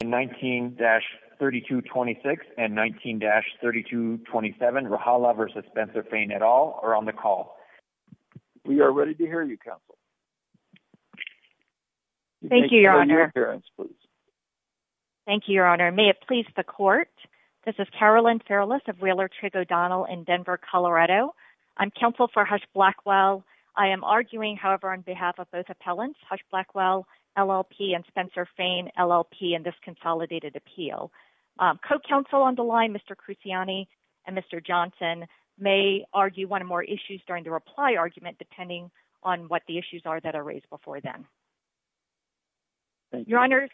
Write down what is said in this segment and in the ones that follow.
and 19-3226 and 19-3227 Rahala v. Spencer Fane et al. are on the call. We are ready to hear you, Counsel. Thank you, Your Honor. Thank you, Your Honor. May it please the Court, this is Carolyn Farrellis of Wheeler-Trig O'Donnell in Denver, Colorado. I'm counsel for Hush Blackwell. I am arguing, however, on behalf of both appellants, Hush Blackwell, LLP, and Spencer Fane, LLP, and this consolidated appeal. Co-counsel on the line, Mr. Cruciani and Mr. Johnson, may argue one or more issues during the reply argument, depending on what the issues are that are raised before then. Your Honors,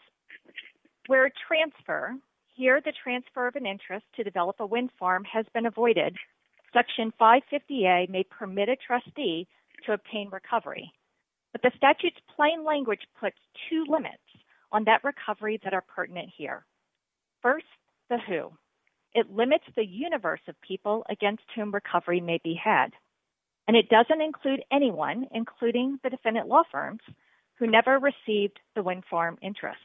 where a transfer, here the transfer of an interest to develop a wind farm has been avoided, Section 550A may permit a trustee to obtain recovery, but the statute's plain language puts two limits on that recovery that are pertinent here. First, the who. It limits the universe of people against whom recovery may be had, and it doesn't include anyone, including the defendant law firms, who never received the wind farm interest.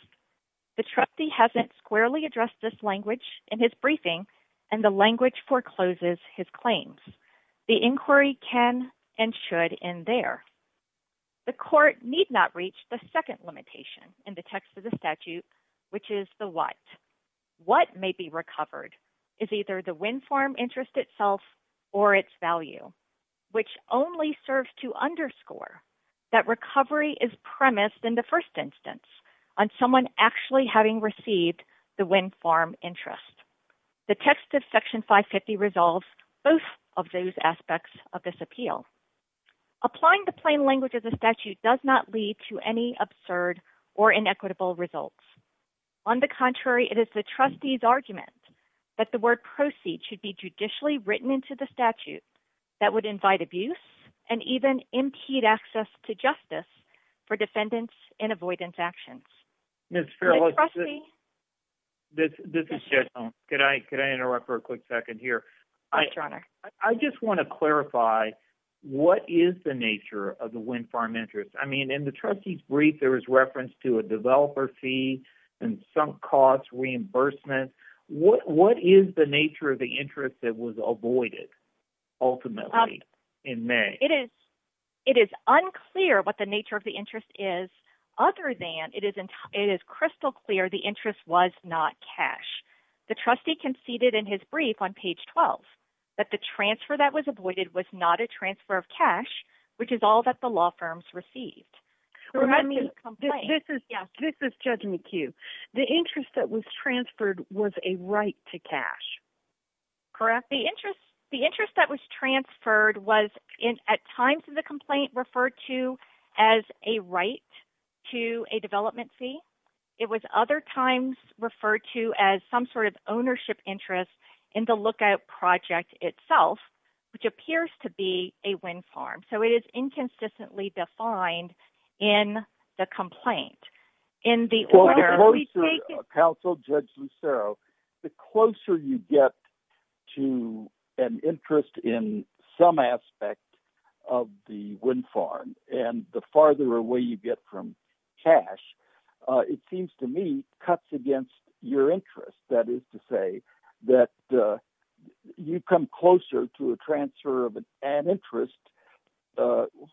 The trustee hasn't squarely addressed this language in his briefing, and the language forecloses his claims. The inquiry can and should end there. The court need not reach the second limitation in the text of the statute, which is the what. What may be recovered is either the wind farm interest itself or its value, which only serves to underscore that recovery is premised in the first instance on someone actually having received the wind farm interest. The text of Section 550 resolves both of those aspects of this appeal. Applying the plain language of the statute does not lead to any absurd or inequitable results. On the contrary, it is the trustee's argument that the word proceed should be judicially written into the statute that would invite abuse and even impede access to justice for defendants in avoidance actions. Ms. Farrell, this is Jed Stone. Yes, Your Honor. I just want to clarify, what is the nature of the wind farm interest? I mean, in the trustee's brief, there was reference to a developer fee and sunk cost reimbursement. What is the nature of the interest that was avoided ultimately in May? It is unclear what the nature of the interest is other than it is crystal clear the interest was not cash. The trustee conceded in his brief on page 12 that the transfer that was avoided was not a transfer of cash, which is all that the law firms received. Correct me if I'm wrong, but this is Judge McHugh. The interest that was transferred was a right to cash, correct? The interest that was transferred was at times in the complaint referred to as a right to a development fee. It was other times referred to as some sort of ownership interest in the lookout project itself, which appears to be a wind farm. So it is inconsistently defined in the complaint. In the order we take it... Counsel, Judge Lucero, the closer you get to an interest in some aspect of the wind farm and the farther away you get from cash, it seems to me cuts against your interest. That is to say that you come closer to a transfer of an interest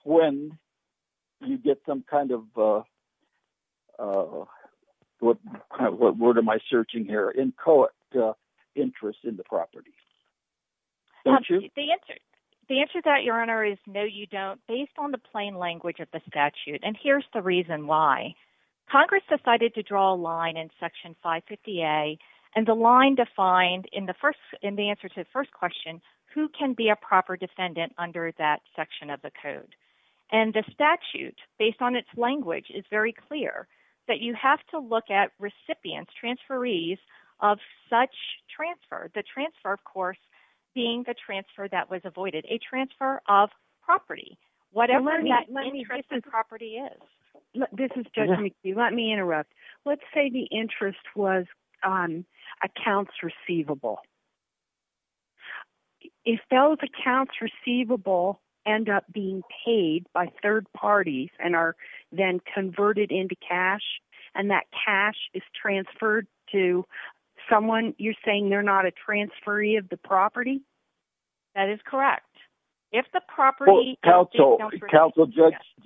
when you get some kind of... What word am I searching here? Inchoate interest in the property, don't you? The answer to that, Your Honor, is no, you don't. It's based on the plain language of the statute, and here's the reason why. Congress decided to draw a line in Section 550A, and the line defined in the answer to the first question, who can be a proper defendant under that section of the code? And the statute, based on its language, is very clear that you have to look at recipients, transferees of such transfer, the transfer, of course, being the transfer that was avoided, a transfer of property, whatever that interest in property is. Let me... This is Judge McHugh. Let me interrupt. Let's say the interest was accounts receivable. If those accounts receivable end up being paid by third parties and are then converted into cash, and that cash is transferred to someone, you're saying they're not a transferee of the property? That is correct. If the property... Counsel,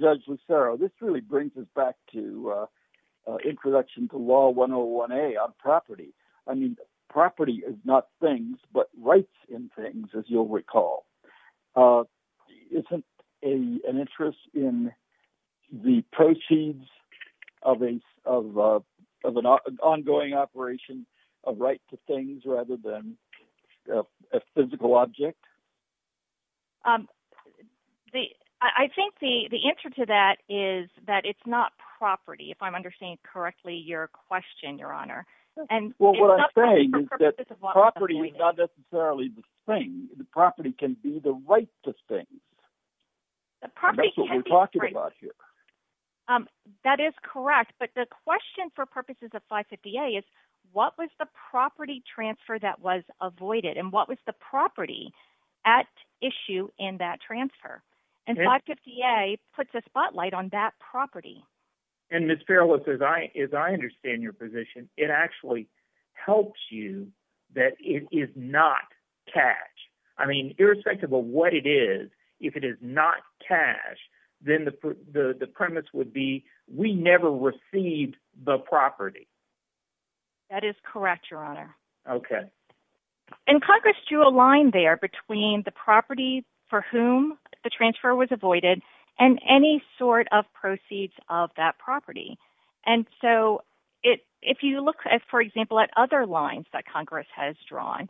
Judge Lucero, this really brings us back to introduction to Law 101A on property. I mean, property is not things, but rights in things, as you'll recall, isn't an interest in the proceeds of an ongoing operation of right to things rather than a physical object? I think the answer to that is that it's not property, if I'm understanding correctly your question, Your Honor. Well, what I'm saying is that property is not necessarily the thing. The property can be the right to things. That's what we're talking about here. That is correct. But the question for purposes of 550A is, what was the property transfer that was avoided? And what was the property at issue in that transfer? And 550A puts a spotlight on that property. And Ms. Farrell, as I understand your position, it actually helps you that it is not cash. I mean, irrespective of what it is, if it is not cash, then the premise would be, we never received the property. That is correct, Your Honor. Okay. And Congress drew a line there between the property for whom the transfer was avoided and any sort of proceeds of that property. And so if you look, for example, at other lines that Congress has drawn,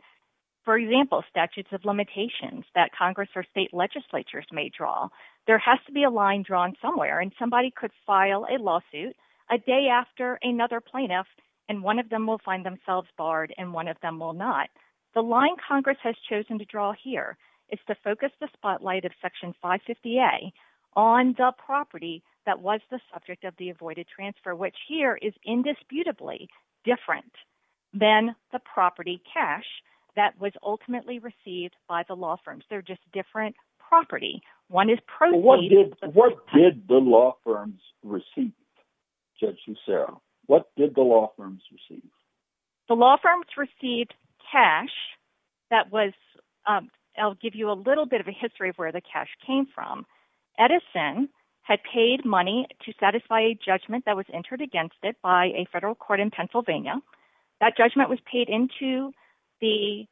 for example, statutes of limitations that Congress or state legislatures may draw, there has to be a line drawn somewhere. And somebody could file a lawsuit a day after another plaintiff, and one of them will find themselves barred and one of them will not. The line Congress has chosen to draw here is to focus the spotlight of Section 550A on the property that was the subject of the avoided transfer, which here is indisputably different than the property cash that was ultimately received by the law firms. They're just different property. One is proceeded- What did the law firms receive, Judge Lucero? What did the law firms receive? The law firms received cash that was, I'll give you a little bit of a history of where the cash came from. Edison had paid money to satisfy a judgment that was entered against it by a federal court in Pennsylvania. That judgment was paid into the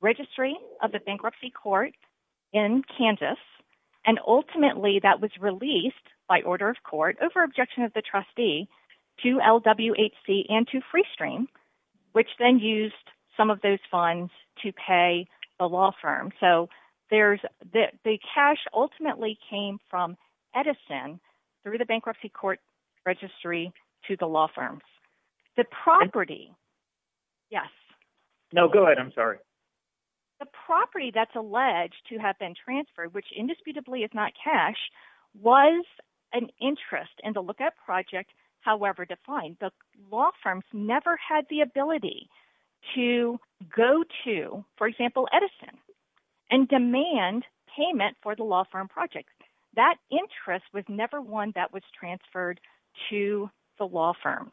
registry of the bankruptcy court in Kansas, and ultimately that was released by order of court over objection of the trustee to LWHC and to Freestream, which then used some of those funds to pay the law firm. So there's- the cash ultimately came from Edison through the bankruptcy court registry to the law firms. The property- Yes. No, go ahead. I'm sorry. The property that's alleged to have been transferred, which indisputably is not cash, was an interest in the Lookout Project, however defined. The law firms never had the ability to go to, for example, Edison, and demand payment for the law firm project. That interest was never one that was transferred to the law firms.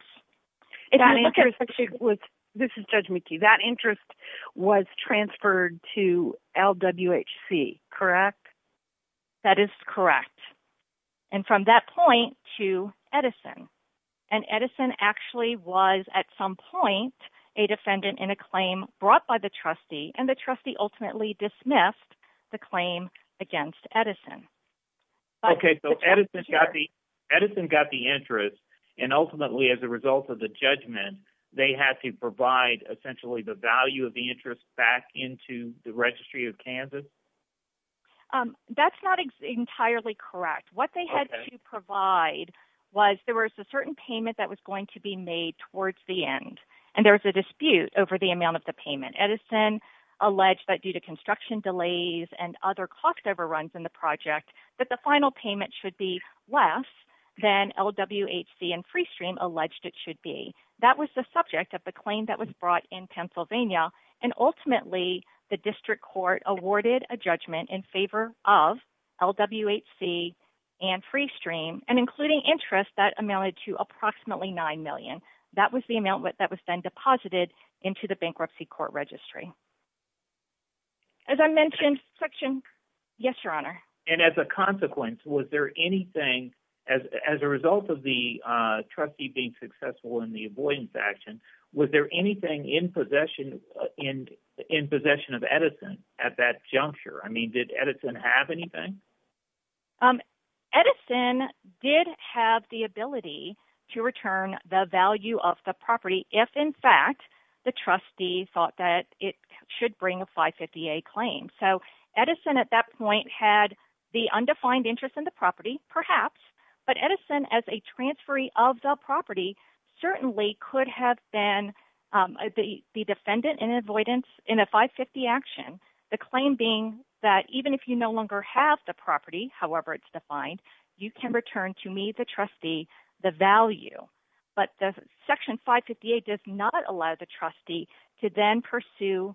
That interest was- This is Judge McKee. That interest was transferred to LWHC, correct? That is correct. And from that point to Edison. And Edison actually was, at some point, a defendant in a claim brought by the trustee, and the trustee ultimately dismissed the claim against Edison. Okay, so Edison got the interest, and ultimately, as a result of the judgment, they had to provide essentially the value of the interest back into the Registry of Kansas? That's not entirely correct. What they had to provide was there was a certain payment that was going to be made towards the end, and there was a dispute over the amount of the payment. Edison alleged that due to construction delays and other cost overruns in the project, that the final payment should be less than LWHC and Freestream alleged it should be. That was the subject of the claim that was brought in Pennsylvania, and ultimately, the district court awarded a judgment in favor of LWHC and Freestream, and including interest that amounted to approximately $9 million. That was the amount that was then deposited into the bankruptcy court registry. As I mentioned, Section... Yes, Your Honor. And as a consequence, was there anything, as a result of the trustee being successful in the avoidance action, was there anything in possession of Edison at that juncture? I mean, did Edison have anything? Edison did have the ability to return the value of the property if, in fact, the trustee thought that it should bring a 550A claim. So Edison, at that point, had the undefined interest in the property, perhaps, but Edison, as a transferee of the property, certainly could have been the defendant in avoidance in a 550 action, the claim being that even if you no longer have the property, however it's defined, you can return to me, the trustee, the value. But the Section 550A does not allow the trustee to then pursue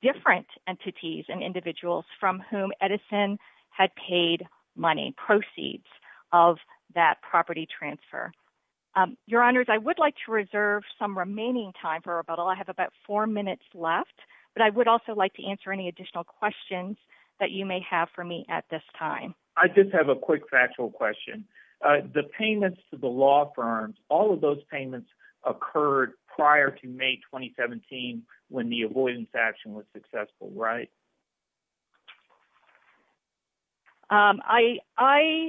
different entities and individuals from whom Edison had paid money, proceeds of that property transfer. Your Honors, I would like to reserve some remaining time for rebuttal. I have about four minutes left, but I would also like to answer any additional questions that you may have for me at this time. I just have a quick factual question. The payments to the law firms, all of those payments occurred prior to May 2017 when the avoidance action was successful, right? I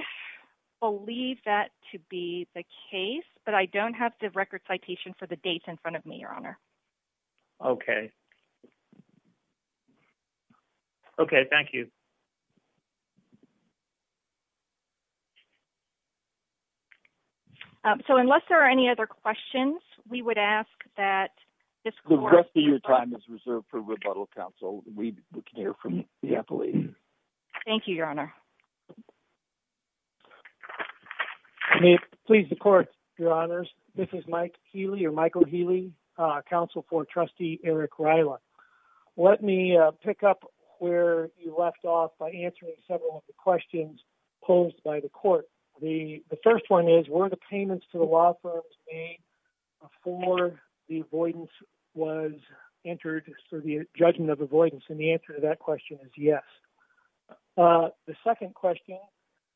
believe that to be the case, but I don't have the record citation for the dates in Okay. Okay. Thank you. So, unless there are any other questions, we would ask that the rest of your time is reserved for rebuttal counsel. We can hear from you, I believe. Thank you, Your Honor. May it please the Court, Your Honors. This is Mike Healy, or Michael Healy, counsel for Trustee Eric Rila. Let me pick up where you left off by answering several of the questions posed by the Court. The first one is, were the payments to the law firms made before the avoidance was entered through the judgment of avoidance, and the answer to that question is yes. The second question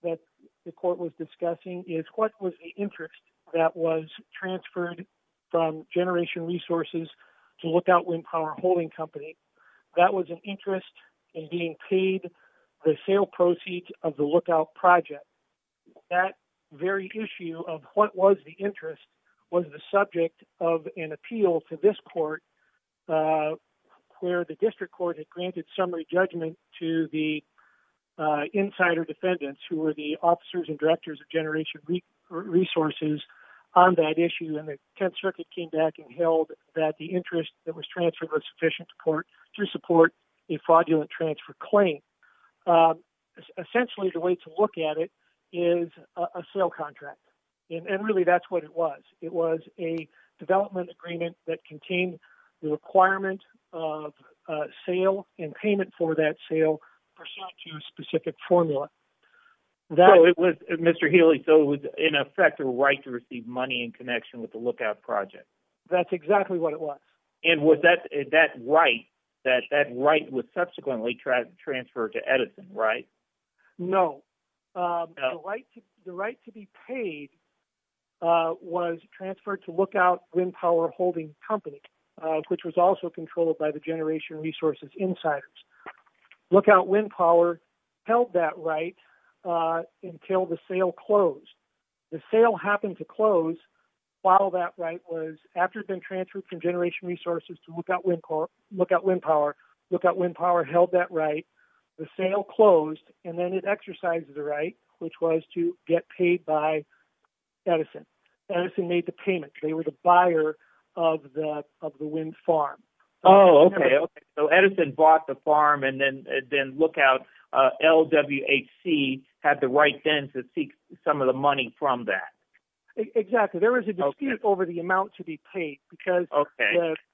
that the Court was discussing is, what was the interest that was transferred from Generation Resources to Lookout Wind Power Holding Company? That was an interest in being paid the sale proceeds of the Lookout project. That very issue of what was the interest was the subject of an appeal to this Court where the District Court had granted summary judgment to the insider defendants who were the officers and directors of Generation Resources on that issue, and the Tenth Circuit came back and held that the interest that was transferred was sufficient to support a fraudulent transfer claim. Essentially, the way to look at it is a sale contract, and really that's what it was. It was a development agreement that contained the requirement of sale and payment for that sale pursuant to a specific formula. So, it was, Mr. Healy, so it was in effect a right to receive money in connection with the Lookout project. That's exactly what it was. And was that right, that that right was subsequently transferred to Edison, right? No. The right to be paid was transferred to Lookout Wind Power Holding Company, which was also controlled by the Generation Resources insiders. Lookout Wind Power held that right until the sale closed. The sale happened to close while that right was, after it had been transferred from Generation Resources to Lookout Wind Power, Lookout Wind Power held that right, the sale closed, and then it exercised the right, which was to get paid by Edison. Edison made the payment. They were the buyer of the wind farm. Oh, okay. Okay. So, Edison bought the farm, and then Lookout, LWHC, had the right then to seek some of the money from that. Exactly. There was a dispute over the amount to be paid, because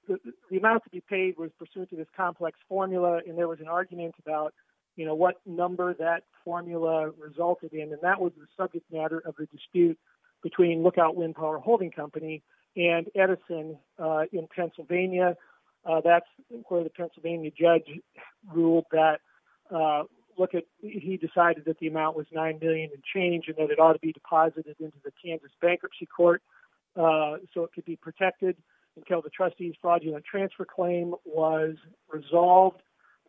the amount to be paid was pursuant to this complex formula, and there was an argument about, you know, what number that formula resulted in, and that was the subject matter of the dispute between Lookout Wind Power Holding Company and Edison in Pennsylvania. That's where the Pennsylvania judge ruled that Lookout, he decided that the amount was $9 million and change, and that it ought to be deposited into the Kansas Bankruptcy Court so it could be protected until the trustee's fraudulent transfer claim was resolved.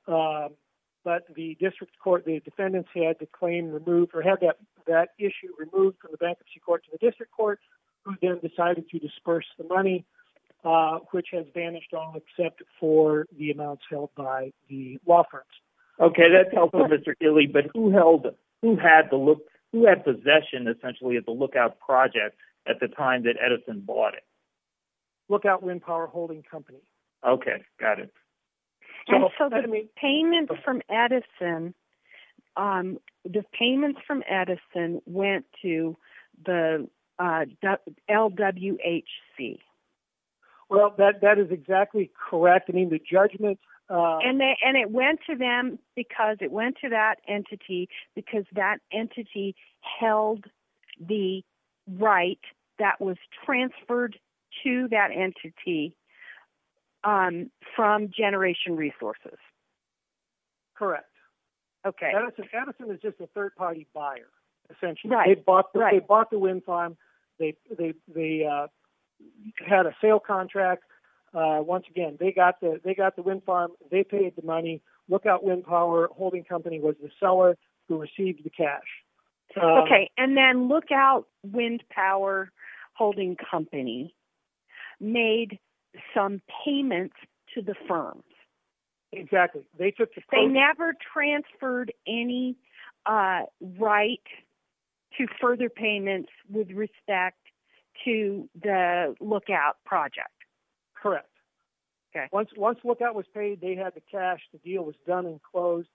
But the district court, the defendants had the claim removed, or had that issue removed from the Bankruptcy Court to the district court, who then decided to disperse the money, which has vanished all except for the amounts held by the law firms. Okay, that tells us, Mr. Dilley, but who held, who had possession, essentially, of the Lookout project at the time that Edison bought it? Lookout Wind Power Holding Company. Okay, got it. And so the payment from Edison, the payment from Edison went to the LWHC. Well, that is exactly correct. I mean, the judgment... And it went to them because it went to that entity, because that entity held the right that was transferred to that entity from Generation Resources. Correct. Okay. Edison is just a third-party buyer, essentially. Right, right. They bought the wind farm, they had a sale contract, once again, they got the wind farm, they paid the money, Lookout Wind Power Holding Company was the seller who received the cash. Okay, and then Lookout Wind Power Holding Company made some payments to the firms. Exactly. They took the... They never transferred any right to further payments with respect to the Lookout project. Correct. Okay. So once Lookout was paid, they had the cash, the deal was done and closed.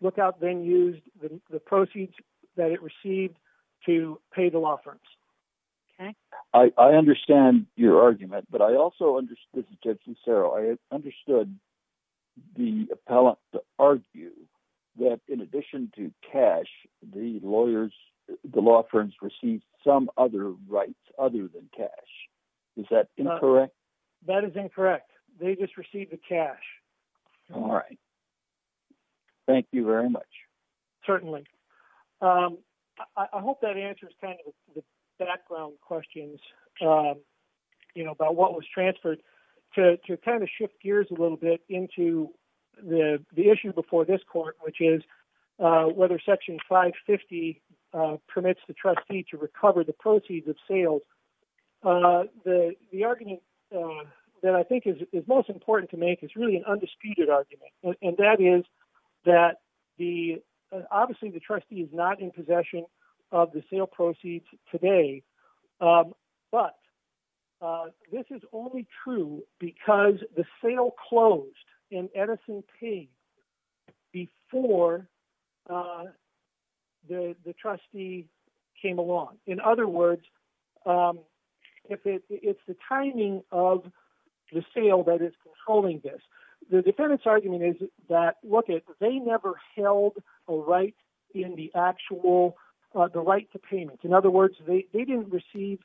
Lookout then used the proceeds that it received to pay the law firms. Okay. I understand your argument, but I also understood... This is Jim Cicero. I understood the appellant to argue that in addition to cash, the lawyers, the law firms received some other rights other than cash. Is that incorrect? That is incorrect. They just received the cash. All right. Thank you very much. Certainly. I hope that answers kind of the background questions, you know, about what was transferred to kind of shift gears a little bit into the issue before this court, which is whether Section 550 permits the trustee to recover the proceeds of sales. The argument that I think is most important to make is really an undisputed argument, and that is that the... Obviously, the trustee is not in possession of the sale proceeds today, but this is only true because the sale closed in Edison P before the trustee came along. In other words, it's the timing of the sale that is controlling this. The defendant's argument is that, look, they never held a right in the actual... The right to payment. In other words, they didn't receive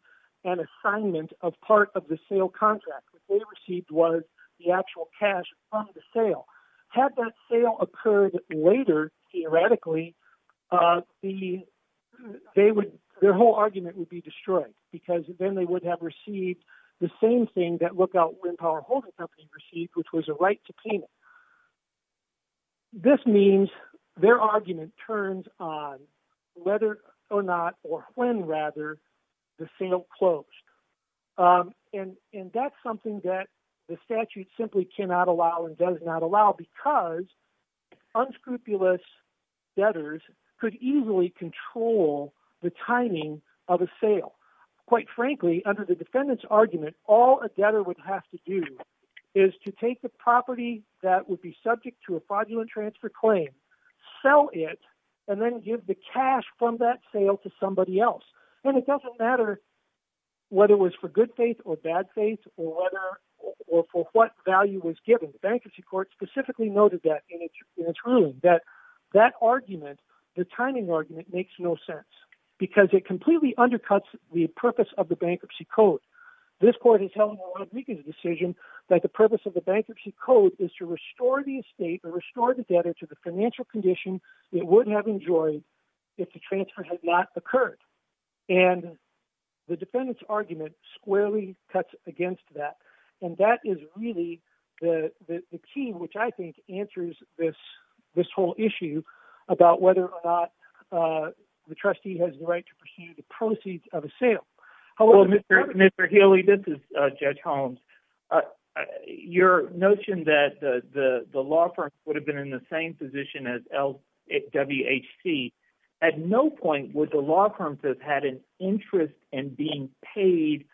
an assignment of part of the sale contract. What they received was the actual cash from the sale. Had that sale occurred later, theoretically, their whole argument would be destroyed because then they would have received the same thing that Lookout Wind Power Holding Company received, which was a right to payment. This means their argument turns on whether or not, or when rather, the sale closed. That's something that the statute simply cannot allow and does not allow because unscrupulous debtors could easily control the timing of a sale. Quite frankly, under the defendant's argument, all a debtor would have to do is to take the property that would be subject to a fraudulent transfer claim, sell it, and then give the cash from that sale to somebody else. It doesn't matter whether it was for good faith or bad faith or for what value was given. The Bankruptcy Court specifically noted that in its ruling, that that argument, the timing argument, makes no sense because it completely undercuts the purpose of the Bankruptcy Code. This court is telling the Rodriguez decision that the purpose of the Bankruptcy Code is to restore the estate or restore the debtor to the financial condition it wouldn't have if the transfer had not occurred. The defendant's argument squarely cuts against that. That is really the key, which I think answers this whole issue about whether or not the trustee has the right to pursue the proceeds of a sale. Mr. Healy, this is Judge Holmes. Your notion that the law firms would have been in the same position as WHC, at no point would the law firms have had an interest in being paid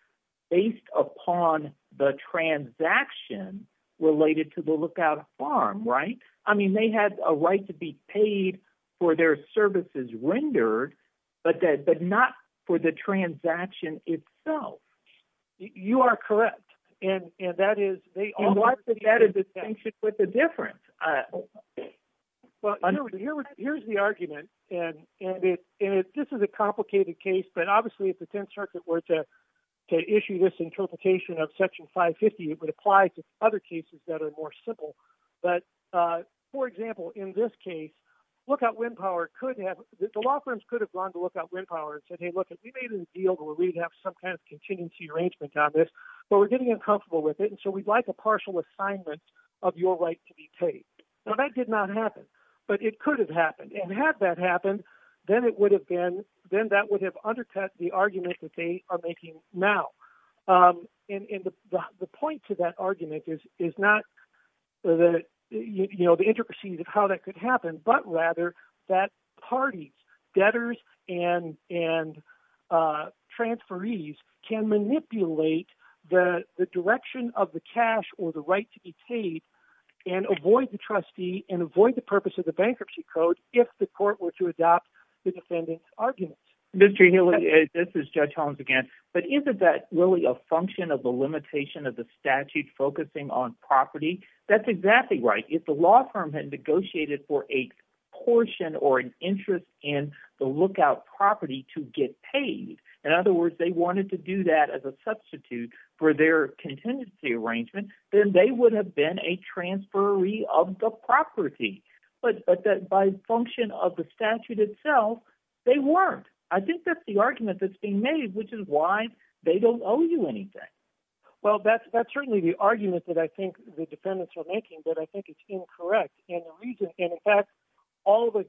based upon the transaction related to the lookout farm, right? I mean, they had a right to be paid for their services rendered, but not for the transaction itself. You are correct. And that is, they all… And what's the difference? Here's the argument, and this is a complicated case, but obviously if the Tenth Circuit were to issue this interpretation of Section 550, it would apply to other cases that are more simple. But, for example, in this case, lookout wind power could have, the law firms could have gone to lookout wind power and said, hey, look, if we made a deal where we'd have some kind of contingency arrangement on this, but we're getting uncomfortable with it, and so we'd like a partial assignment of your right to be paid. Now, that did not happen, but it could have happened. And had that happened, then that would have undercut the argument that they are making now. And the point to that argument is not the intricacies of how that could happen, but rather that parties, debtors and transferees, can manipulate the direction of the cash or the right to be paid and avoid the trustee and avoid the purpose of the bankruptcy code if the court were to adopt the defendant's argument. Mr. Healy, this is Judge Holmes again, but isn't that really a function of the limitation of the statute focusing on property? That's exactly right. If the law firm had negotiated for a portion or an interest in the lookout property to get paid, in other words, they wanted to do that as a substitute for their contingency arrangement, then they would have been a transferee of the property. But by function of the statute itself, they weren't. I think that's the argument that's being made, which is why they don't owe you anything. Well, that's certainly the argument that I think the defendants are making, but I think it's incorrect. And in fact, all the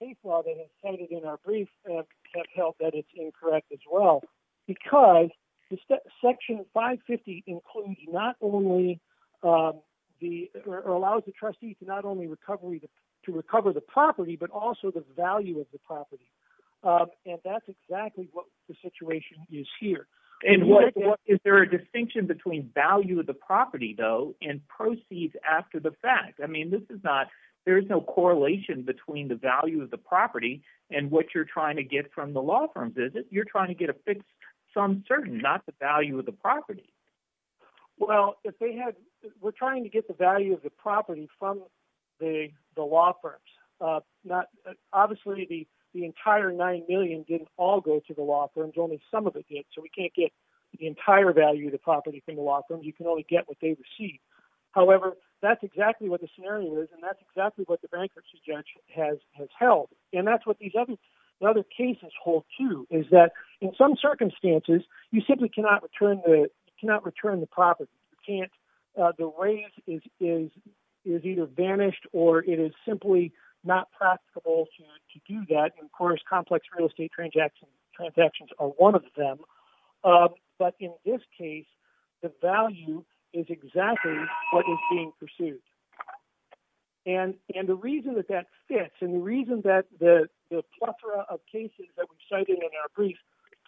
case law that is cited in our brief have held that it's incorrect as well, because Section 550 allows the trustee to not only recover the property, but also the value of the property. And that's exactly what the situation is here. Is there a distinction between value of the property, though, and proceeds after the fact? I mean, there's no correlation between the value of the property and what you're trying to get from the law firms, is it? You're trying to get a fixed sum certain, not the value of the property. Well, we're trying to get the value of the property from the law firms. Obviously, the entire $9 million didn't all go to the law firms. Only some of it did. So we can't get the entire value of the property from the law firms. You can only get what they receive. However, that's exactly what the scenario is, and that's exactly what the bankruptcy judge has held. And that's what these other cases hold, too, is that in some circumstances, you simply cannot return the property. The raise is either vanished or it is simply not practicable to do that. Of course, complex real estate transactions are one of them. But in this case, the value is exactly what is being pursued. And the reason that that fits, and the reason that the plethora of cases that we've cited in our brief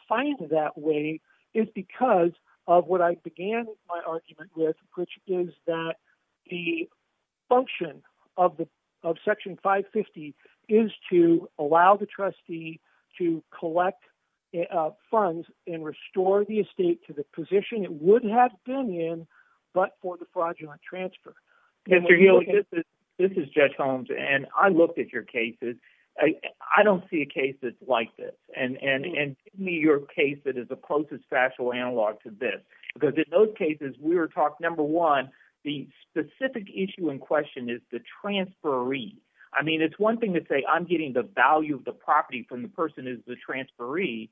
find that way is because of what I began my argument with, which is that the function of Section 550 is to allow the trustee to collect funds and restore the estate to the position it would have been in, but for the fraudulent transfer. Mr. Healy, this is Judge Holmes, and I looked at your cases. I don't see a case that's like this. And give me your case that is the closest factual analog to this. Because in those cases, we were talking, number one, the specific issue in question is the transferee. I mean, it's one thing to say I'm getting the value of the property from the person who's the transferee,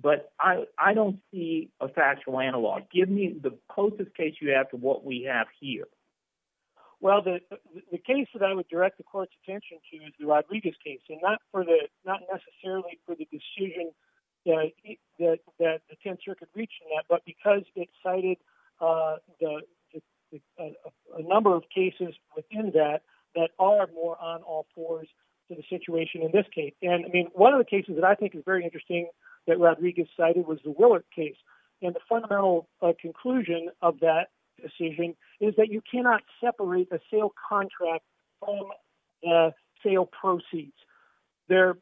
but I don't see a factual analog. Give me the closest case you have to what we have here. Well, the case that I would direct the court's attention to is the Rodriguez case, and not necessarily for the decision that the Tenth Circuit reached in that, but because it cited a number of cases within that that are more on all fours to the situation in this case. And, I mean, one of the cases that I think is very interesting that Rodriguez cited was the Willard case. And the fundamental conclusion of that decision is that you cannot separate the sale contract from the sale proceeds. They're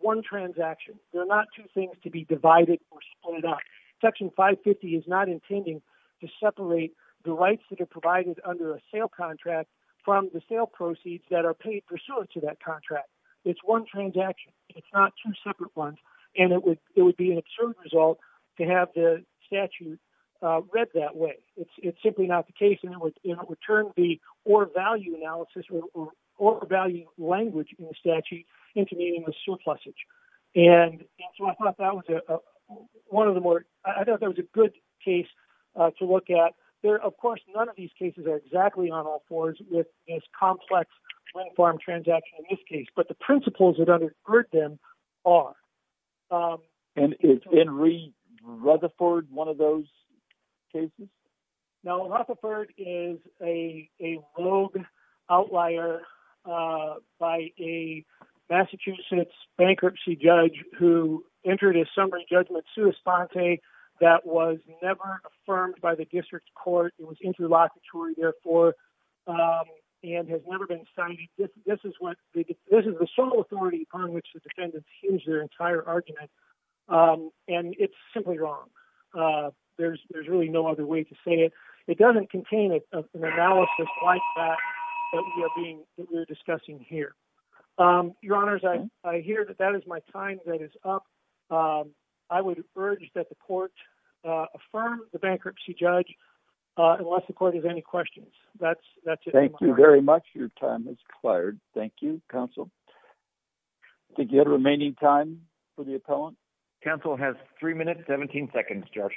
one transaction. They're not two things to be divided or split up. Section 550 is not intending to separate the rights that are provided under a sale contract from the sale proceeds that are paid pursuant to that contract. It's one transaction. It's not two separate ones. And it would be an absurd result to have the statute read that way. It's simply not the case. And it would turn the or value analysis or value language in the statute into meaning the surplusage. And so I thought that was one of the more, I thought that was a good case to look at. Of course, none of these cases are exactly on all fours with this complex wind farm transaction in this case. But the principles that undergird them are. And is Henry Rutherford one of those cases? No. Rutherford is a rogue outlier by a Massachusetts bankruptcy judge who entered a summary judgment that was never affirmed by the district court. It was interlocutory, therefore, and has never been signed. This is the sole authority upon which the defendants hinge their entire argument. And it's simply wrong. There's really no other way to say it. It doesn't contain an analysis like that that we are discussing here. Your honors, I hear that that is my time that is up. I would urge that the court affirm the bankruptcy judge unless the court has any questions. That's it. Thank you very much. Your time is expired. Thank you, counsel. Do you have remaining time for the appellant? Counsel has three minutes, 17 seconds, Judge.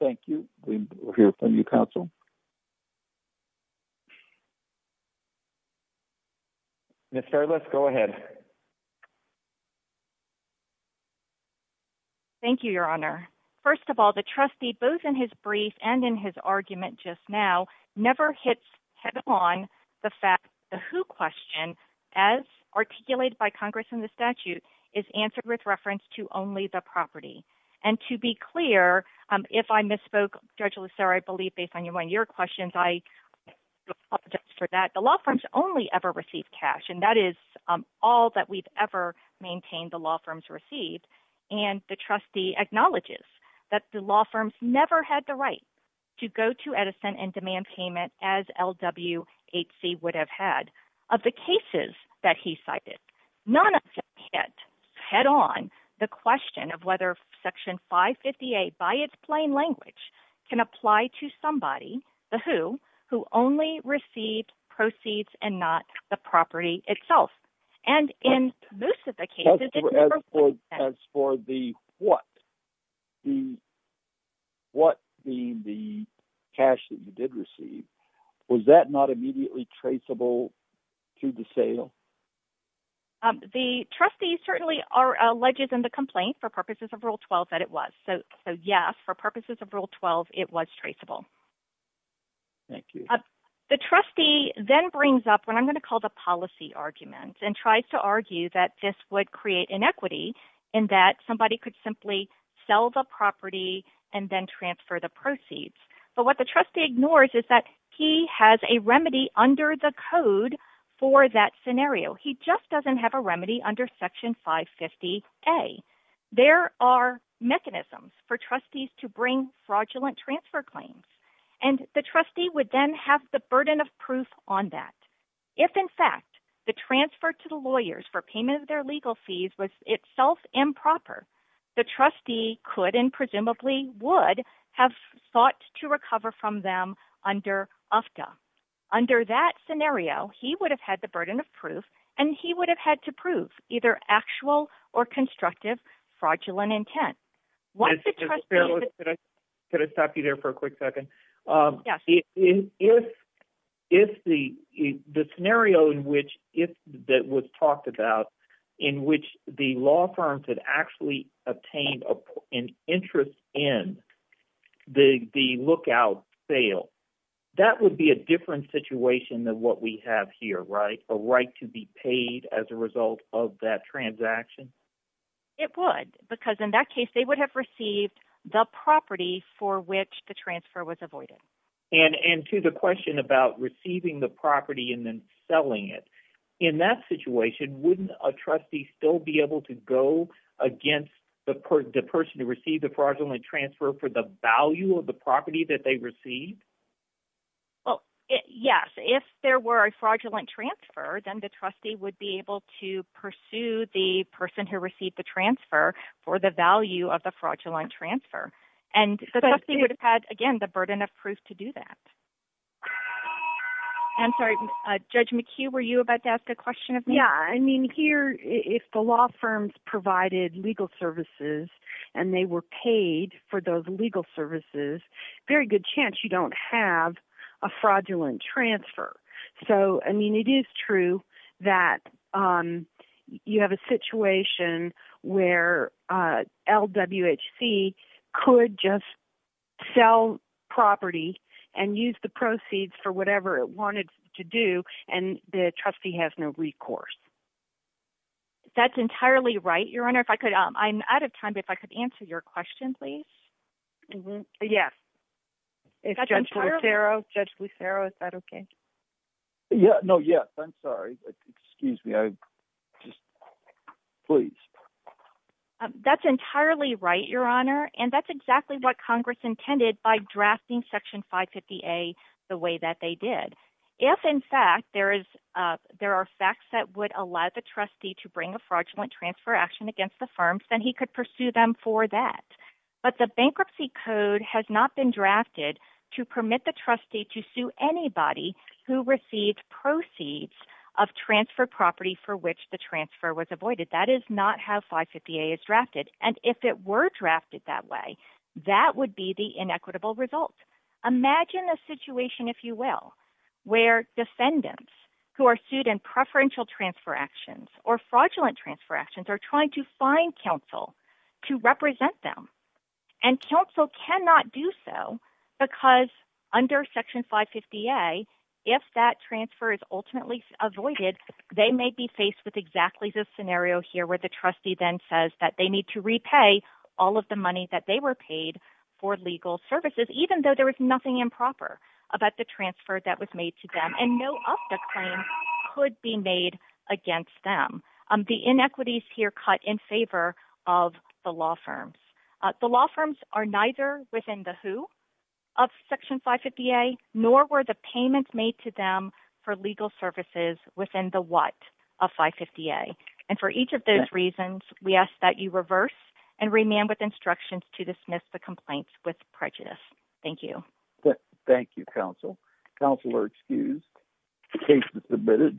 Thank you. We hear from you, counsel. Ms. Fairless, go ahead. Thank you, your honor. First of all, the trustee, both in his brief and in his argument just now, never hits head-on the who question as articulated by Congress in the statute is answered with reference to only the property. And to be clear, if I misspoke, Judge Loeser, I believe based on one of your questions, I apologize for that. The law firms only ever receive cash, and that is all that we've ever maintained the law firms received. And the trustee acknowledges that the law firms never had the right to go to Edison and demand payment as LWHC would have had. Of the cases that he cited, none of them hit head-on the question of whether Section 558 by its plain language can apply to somebody, the who, who only received proceeds and not the property itself. And in most of the cases, it never was. As for the what, the what being the cash that you did receive, was that not immediately traceable to the sale? The trustee certainly alleges in the complaint for purposes of Rule 12 that it was. So yes, for purposes of Rule 12, it was traceable. Thank you. The trustee then brings up what I'm going to call the policy argument and tries to argue that this would create inequity in that somebody could simply sell the property and then transfer the proceeds. But what the trustee ignores is that he has a remedy under the code for that scenario. He just doesn't have a remedy under Section 550A. There are mechanisms for trustees to bring fraudulent transfer claims. And the trustee would then have the burden of proof on that. If, in fact, the transfer to the lawyers for payment of their legal fees was itself improper, the trustee could and presumably would have sought to recover from them under UFTA. Under that scenario, he would have had the burden of proof and he would have had to prove either actual or constructive fraudulent intent. Could I stop you there for a quick second? Yes. If the scenario that was talked about in which the law firms had actually obtained an interest in the lookout sale, that would be a different situation than what we have here, right? A right to be paid as a result of that transaction? It would. Because in that case, they would have received the property for which the transfer was avoided. And to the question about receiving the property and then selling it, in that situation, wouldn't a trustee still be able to go against the person who received the fraudulent transfer for the value of the property that they received? Well, yes. If there were a fraudulent transfer, then the trustee would be able to pursue the person who received the transfer for the value of the fraudulent transfer. And the trustee would have had, again, the burden of proof to do that. I'm sorry. Judge McHugh, were you about to ask a question of me? Yeah. I mean, here, if the law firms provided legal services and they were paid for those legal services, very good chance you don't have a fraudulent transfer. So, I mean, it is true that you have a situation where LWHC could just sell property and use the proceeds for whatever it wanted to do, and the trustee has no recourse. That's entirely right, Your Honor. I'm out of time, but if I could answer your question, please. Yes. Judge Lucero, is that okay? Yeah. No, yes. I'm sorry. Excuse me. I just... Please. That's entirely right, Your Honor. And that's exactly what Congress intended by drafting Section 550A the way that they did. If, in fact, there are facts that would allow the trustee to bring a fraudulent transfer action against the firms, then he could pursue them for that. But the bankruptcy code has not been drafted to permit the trustee to sue anybody who received proceeds of transfer property for which the transfer was avoided. That is not how 550A is drafted. And if it were drafted that way, that would be the inequitable result. Imagine a situation, if you will, where defendants who are sued in preferential transfer actions or fraudulent transfer actions are trying to find counsel to represent them. And counsel cannot do so because under Section 550A, if that transfer is ultimately avoided, they may be faced with exactly this scenario here where the trustee then says that they need to repay all of the money that they were paid for legal services, even though there was nothing improper about the transfer that was made to them. And no UFTA claim could be made against them. The inequities here cut in favor of the law firms. The law firms are neither within the who of Section 550A, nor were the payments made to them for legal services within the what of 550A. And for each of those reasons, we ask that you reverse and remand with instructions to dismiss the complaints with prejudice. Thank you. Thank you, counsel. Counsel are excused. The case is submitted.